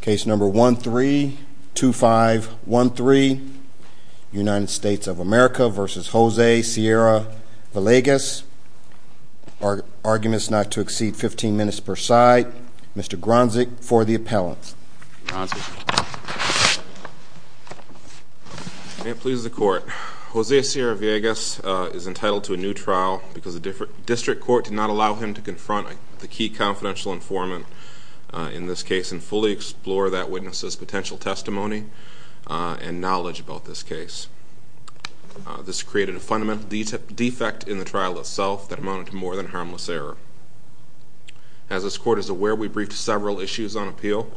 Case number 132513 United States of America v. Jose Sierra Villegas Arguments not to exceed 15 minutes per side. Mr. Gronzick for the appellant. All right. Jose Sierra Villegas is entitled to a new trial because the district court did not allow him to confront the key confidential informant in this case and fully explore that witness's potential testimony and knowledge about this case. This created a fundamental defect in the trial itself that amounted to more than harmless error. As this court is aware, we briefed several issues on appeal.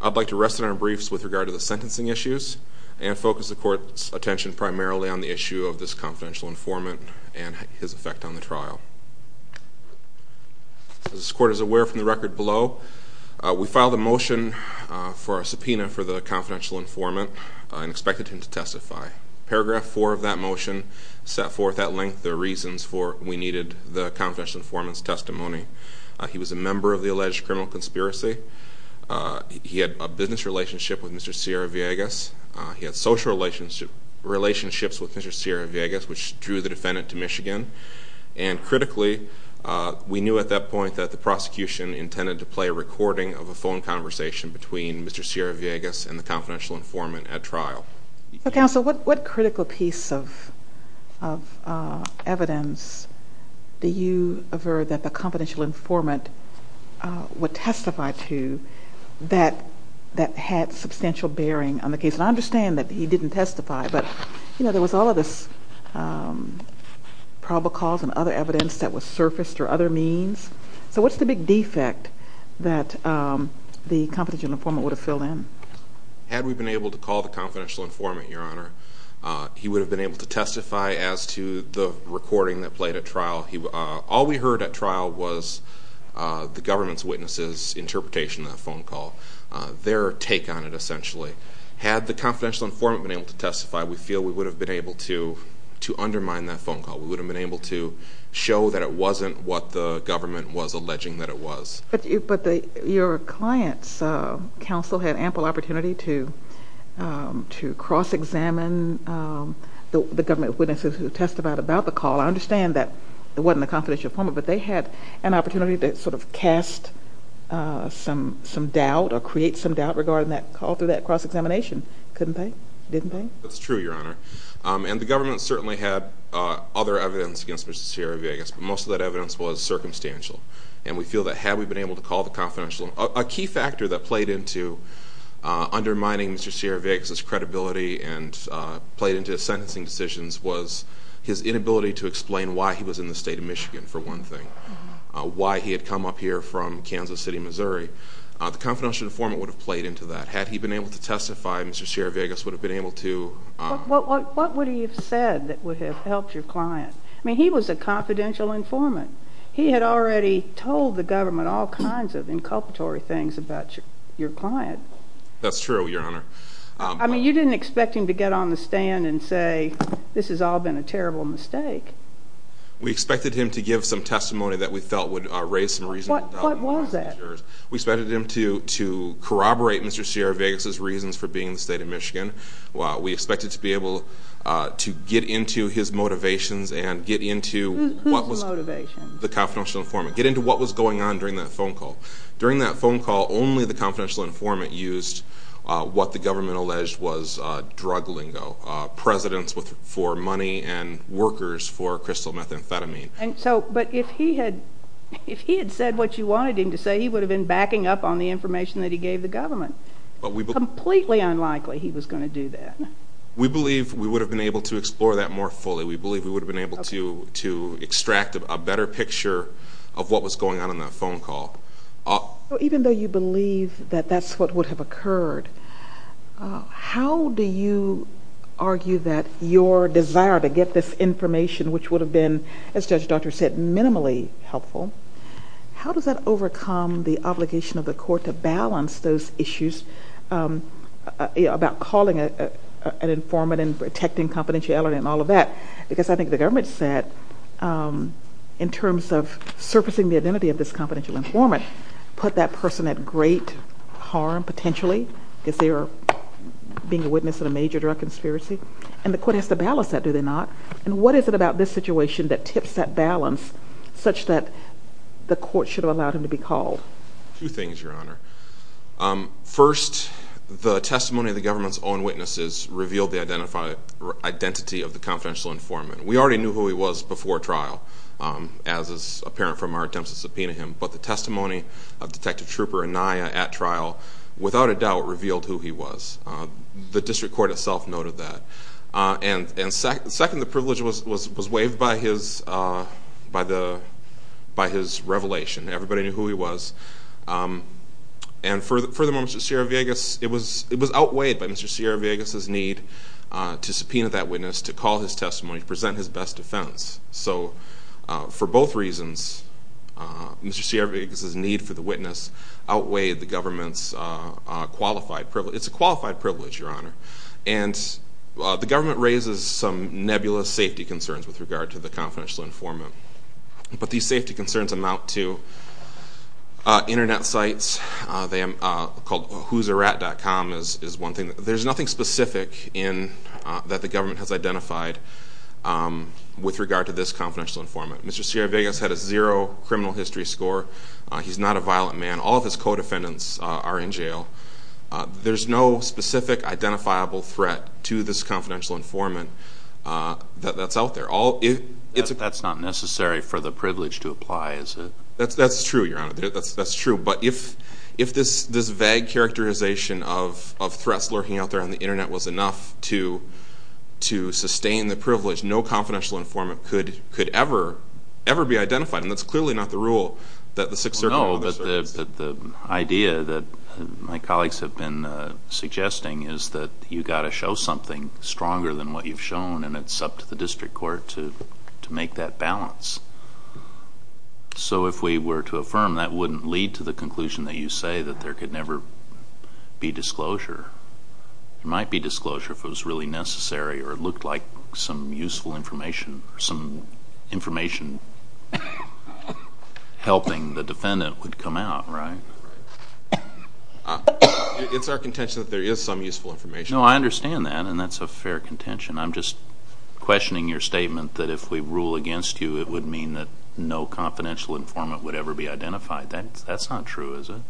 I'd like to rest on our briefs with regard to the sentencing issues and focus the court's attention primarily on the issue of this confidential informant and his effect on the trial. As this court is aware from the record below, we filed a motion for a subpoena for the confidential informant and expected him to testify. Paragraph 4 of that motion set forth at length the reasons for we needed the confidential informant's testimony. He was a member of the alleged criminal conspiracy. He had a business relationship with Mr. Sierra Villegas. He had social relationships with Mr. Sierra Villegas, which drew the defendant to Michigan. And critically, we knew at that point that the prosecution intended to play a recording of a phone conversation between Mr. Sierra Villegas and the confidential informant at trial. So, counsel, what critical piece of evidence do you aver that the confidential informant would testify to that had substantial bearing on the case? And I understand that he didn't testify, but, you know, there was all of this probacols and other evidence that was surfaced or other means. So what's the big defect that the confidential informant would have filled in? Had we been able to call the confidential informant, Your Honor, he would have been able to testify as to the recording that played at trial. All we heard at trial was the government's witnesses' interpretation of that phone call, their take on it, essentially. Had the confidential informant been able to testify, we feel we would have been able to undermine that phone call. We would have been able to show that it wasn't what the government was alleging that it was. But your client's counsel had ample opportunity to cross-examine the government witnesses who testified about the call. I understand that it wasn't the confidential informant, but they had an opportunity to sort of cast some doubt or create some doubt regarding that call through that cross-examination, couldn't they? Didn't they? That's true, Your Honor. And the government certainly had other evidence against Mr. Sierra Villegas, but most of that evidence was circumstantial. And we feel that had we been able to call the confidential informant, a key factor that played into undermining Mr. Sierra Villegas' credibility and played into his sentencing decisions was his inability to explain why he was in the state of Michigan, for one thing, why he had come up here from Kansas City, Missouri. The confidential informant would have played into that. Had he been able to testify, Mr. Sierra Villegas would have been able to... What would he have said that would have helped your client? I mean, he was a confidential informant. He had already told the government all kinds of inculpatory things about your client. That's true, Your Honor. I mean, you didn't expect him to get on the stand and say, this has all been a terrible mistake. We expected him to give some testimony that we felt would raise some reasonable doubt. What was that? We expected him to corroborate Mr. Sierra Villegas' reasons for being in the state of Michigan. We expected to be able to get into his motivations and get into what was... The confidential informant, get into what was going on during that phone call. During that phone call, only the confidential informant used what the government alleged was drug lingo, presidents for money and workers for crystal methamphetamine. But if he had said what you wanted him to say, he would have been backing up on the information that he gave the government. Completely unlikely he was going to do that. We believe we would have been able to explore that more fully. We believe we would have been able to extract a better picture of what was going on in that phone call. Even though you believe that that's what would have occurred, how do you argue that your desire to get this information, which would have been, as Judge Daugherty said, minimally helpful, how does that overcome the obligation of the court to balance those issues about calling an informant and protecting confidentiality and all of that? Because I think the government said, in terms of surfacing the identity of this confidential informant, put that person at great harm, potentially, because they are being a witness in a major drug conspiracy. And the court has to balance that, do they not? And what is it about this situation that tips that balance such that the court should have allowed him to be called? Two things, Your Honor. First, the testimony of the government's own witnesses revealed the identity of the confidential informant. We already knew who he was before trial, as is apparent from our attempts to subpoena him. But the testimony of Detective Trooper Anaya at trial, without a doubt, revealed who he was. The district court itself noted that. And second, the privilege was waived by his revelation. Everybody knew who he was. And furthermore, Mr. Sierra-Vegas, it was outweighed by Mr. Sierra-Vegas' need to subpoena that witness, to call his testimony, to present his best defense. So for both reasons, Mr. Sierra-Vegas' need for the witness outweighed the government's qualified privilege. It's a qualified privilege, Your Honor. And the government raises some nebulous safety concerns with regard to the confidential informant. But these safety concerns amount to Internet sites called whoserat.com is one thing. There's nothing specific that the government has identified with regard to this confidential informant. Mr. Sierra-Vegas had a zero criminal history score. He's not a violent man. All of his co-defendants are in jail. There's no specific identifiable threat to this confidential informant that's out there. That's not necessary for the privilege to apply, is it? That's true, Your Honor. That's true. But if this vague characterization of threats lurking out there on the Internet was enough to sustain the privilege, no confidential informant could ever, ever be identified. And that's clearly not the rule that the Sixth Circle officers... No, but the idea that my colleagues have been suggesting is that you've got to show something stronger than what you've shown, and it's up to the district court to make that balance. So if we were to affirm, that wouldn't lead to the conclusion that you say that there could never be disclosure. There might be disclosure if it was really necessary or it looked like some useful information or some information helping the defendant would come out, right? It's our contention that there is some useful information. No, I understand that, and that's a fair contention. I'm just questioning your statement that if we rule against you, it would mean that no confidential informant would ever be identified. That's not true, is it?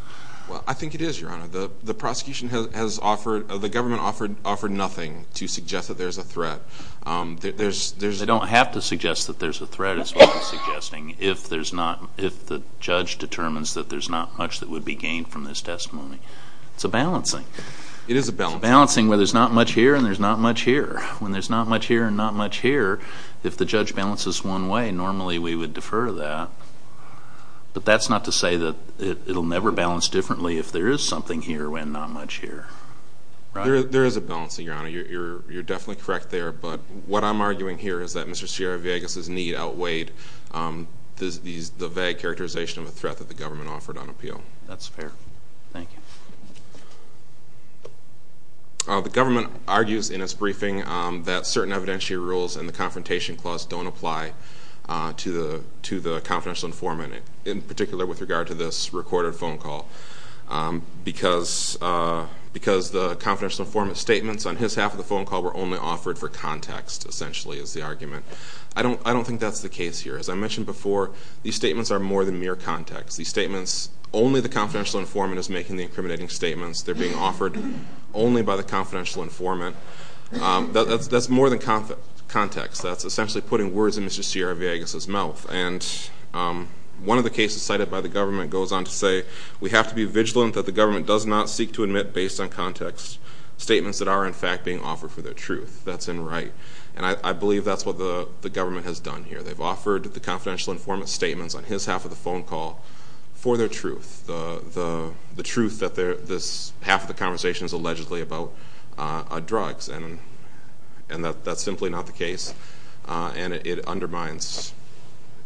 Well, I think it is, Your Honor. The prosecution has offered, the government offered nothing to suggest that there's a threat. They don't have to suggest that there's a threat is what they're suggesting if there's not, if the judge determines that there's not much that would be gained from this testimony. It's a balancing. It is a balancing. It's a balancing where there's not much here and there's not much here. When there's not much here and not much here, if the judge balances one way, normally we would defer that. But that's not to say that it will never balance differently if there is something here and not much here. There is a balancing, Your Honor. You're definitely correct there. But what I'm arguing here is that Mr. Sierra-Vegas' need outweighed the vague characterization of a threat that the government offered on appeal. That's fair. Thank you. The government argues in its briefing that certain evidentiary rules and the confrontation clause don't apply to the confidential informant, in particular with regard to this recorded phone call, because the confidential informant's statements on his half of the phone call were only offered for context, essentially, is the argument. I don't think that's the case here. As I mentioned before, these statements are more than mere context. These statements, only the confidential informant is making the incriminating statements. They're being offered only by the confidential informant. That's more than context. That's essentially putting words in Mr. Sierra-Vegas' mouth. And one of the cases cited by the government goes on to say, we have to be vigilant that the government does not seek to admit, based on context, statements that are, in fact, being offered for their truth. That's in right. And I believe that's what the government has done here. They've offered the confidential informant statements on his half of the phone call for their truth, the truth that half of the conversation is allegedly about drugs, and that's simply not the case, and it undermines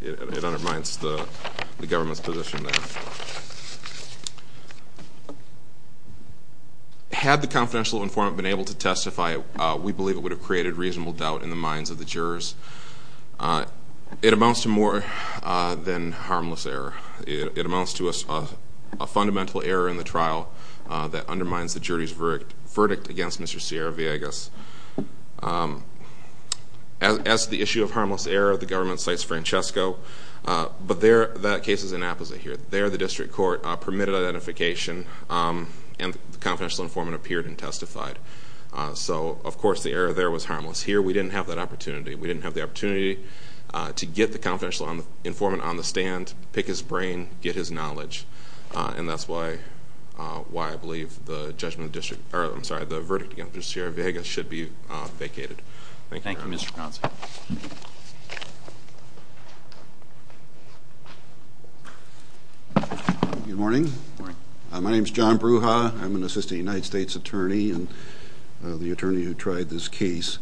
the government's position there. Had the confidential informant been able to testify, we believe it would have created reasonable doubt in the minds of the jurors. It amounts to more than harmless error. It amounts to a fundamental error in the trial that undermines the jury's verdict against Mr. Sierra-Vegas. As to the issue of harmless error, the government cites Francesco, but that case is an opposite here. There, the district court permitted identification, and the confidential informant appeared and testified. So, of course, the error there was harmless. Here, we didn't have that opportunity. We didn't have the opportunity to get the confidential informant on the stand, pick his brain, get his knowledge, and that's why I believe the verdict against Mr. Sierra-Vegas should be vacated. Thank you very much. Thank you, Mr. Ponce. Good morning. Good morning. My name is John Bruja. I'm an assistant United States attorney and the attorney who tried this case.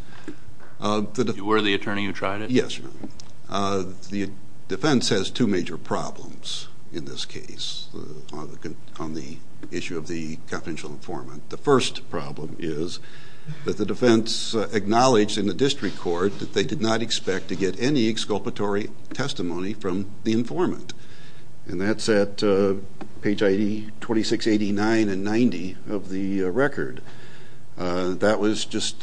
You were the attorney who tried it? Yes. The defense has two major problems in this case on the issue of the confidential informant. The first problem is that the defense acknowledged in the district court that they did not expect to get any exculpatory testimony from the informant, and that's at page 2689 and 90 of the record. That was just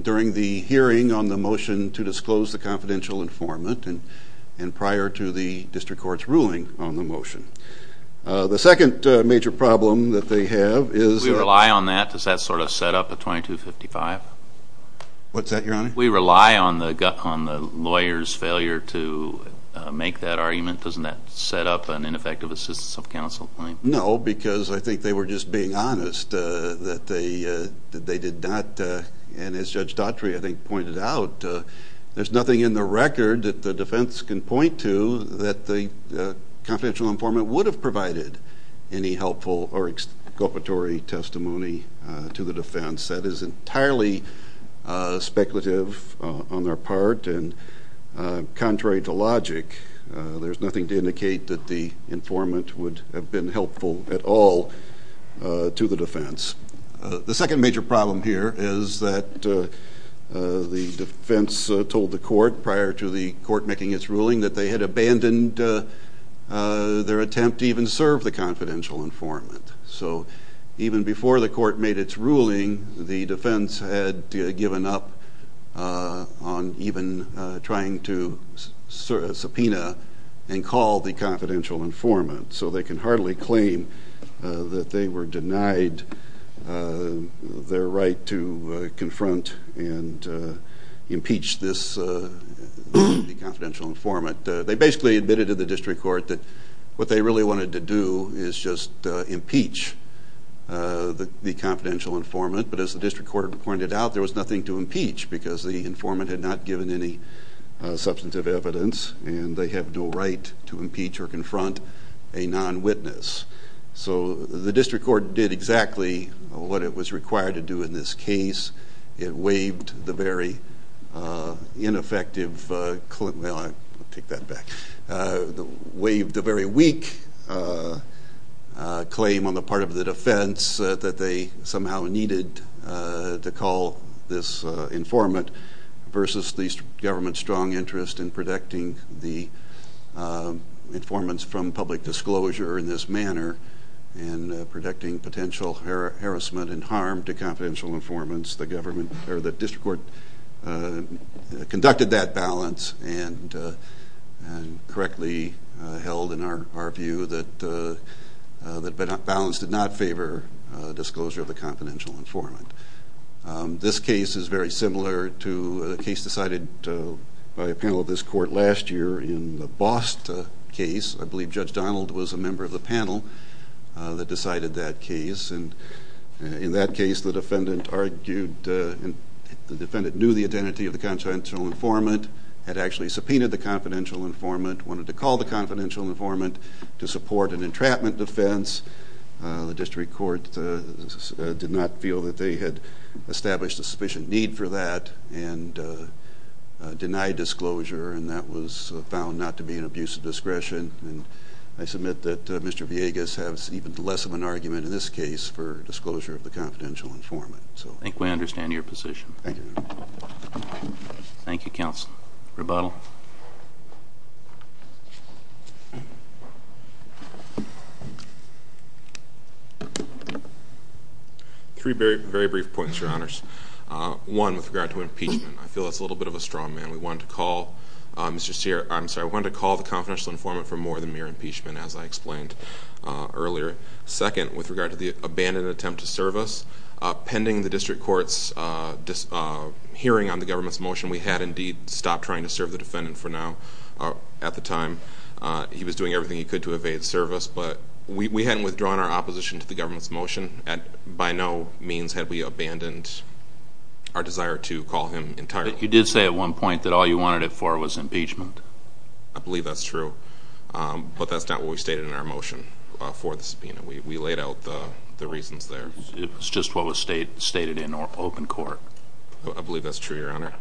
during the hearing on the motion to disclose the confidential informant and prior to the district court's ruling on the motion. The second major problem that they have is that- Do we rely on that? Does that sort of set up a 2255? What's that, Your Honor? We rely on the lawyer's failure to make that argument. Doesn't that set up an ineffective assistance of counsel? No, because I think they were just being honest that they did not, and as Judge Daughtry, I think, pointed out, there's nothing in the record that the defense can point to that the confidential informant would have provided any helpful or exculpatory testimony to the defense. That is entirely speculative on their part, and contrary to logic, there's nothing to indicate that the informant would have been helpful at all to the defense. The second major problem here is that the defense told the court, prior to the court making its ruling, that they had abandoned their attempt to even serve the confidential informant. So even before the court made its ruling, the defense had given up on even trying to subpoena and call the confidential informant. So they can hardly claim that they were denied their right to confront and impeach this confidential informant. They basically admitted to the district court that what they really wanted to do is just impeach the confidential informant, but as the district court pointed out, there was nothing to impeach because the informant had not given any substantive evidence and they have no right to impeach or confront a non-witness. So the district court did exactly what it was required to do in this case. It waived the very weak claim on the part of the defense that they somehow needed to call this informant versus the government's strong interest in protecting the informants from public disclosure in this manner and protecting potential harassment and harm to confidential informants. The district court conducted that balance and correctly held in our view that balance did not favor disclosure of the confidential informant. This case is very similar to a case decided by a panel of this court last year in the Bost case. I believe Judge Donald was a member of the panel that decided that case. In that case, the defendant knew the identity of the confidential informant, had actually subpoenaed the confidential informant, wanted to call the confidential informant to support an entrapment defense. The district court did not feel that they had established a sufficient need for that and denied disclosure, and that was found not to be an abuse of discretion. I submit that Mr. Villegas has even less of an argument in this case for disclosure of the confidential informant. I think we understand your position. Thank you. Thank you, counsel. Rebuttal. Three very brief points, Your Honors. One, with regard to impeachment, I feel that's a little bit of a strongman. We wanted to call the confidential informant for more than mere impeachment, as I explained earlier. Second, with regard to the abandoned attempt to serve us, pending the district court's hearing on the government's motion, we had indeed stopped trying to serve the defendant for now. At the time, he was doing everything he could to evade service, but we hadn't withdrawn our opposition to the government's motion. By no means had we abandoned our desire to call him entirely. But you did say at one point that all you wanted it for was impeachment. I believe that's true, but that's not what we stated in our motion for the subpoena. We laid out the reasons there. It was just what was stated in open court. I believe that's true, Your Honor.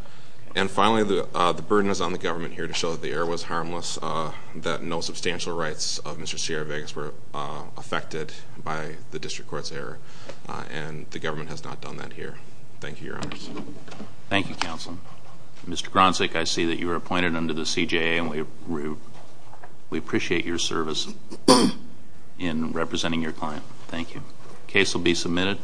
And finally, the burden is on the government here to show that the error was harmless, that no substantial rights of Mr. Sierra-Vegas were affected by the district court's error, and the government has not done that here. Thank you, Your Honors. Thank you, Counsel. Mr. Gronzek, I see that you were appointed under the CJA, and we appreciate your service in representing your client. Thank you. Case will be submitted.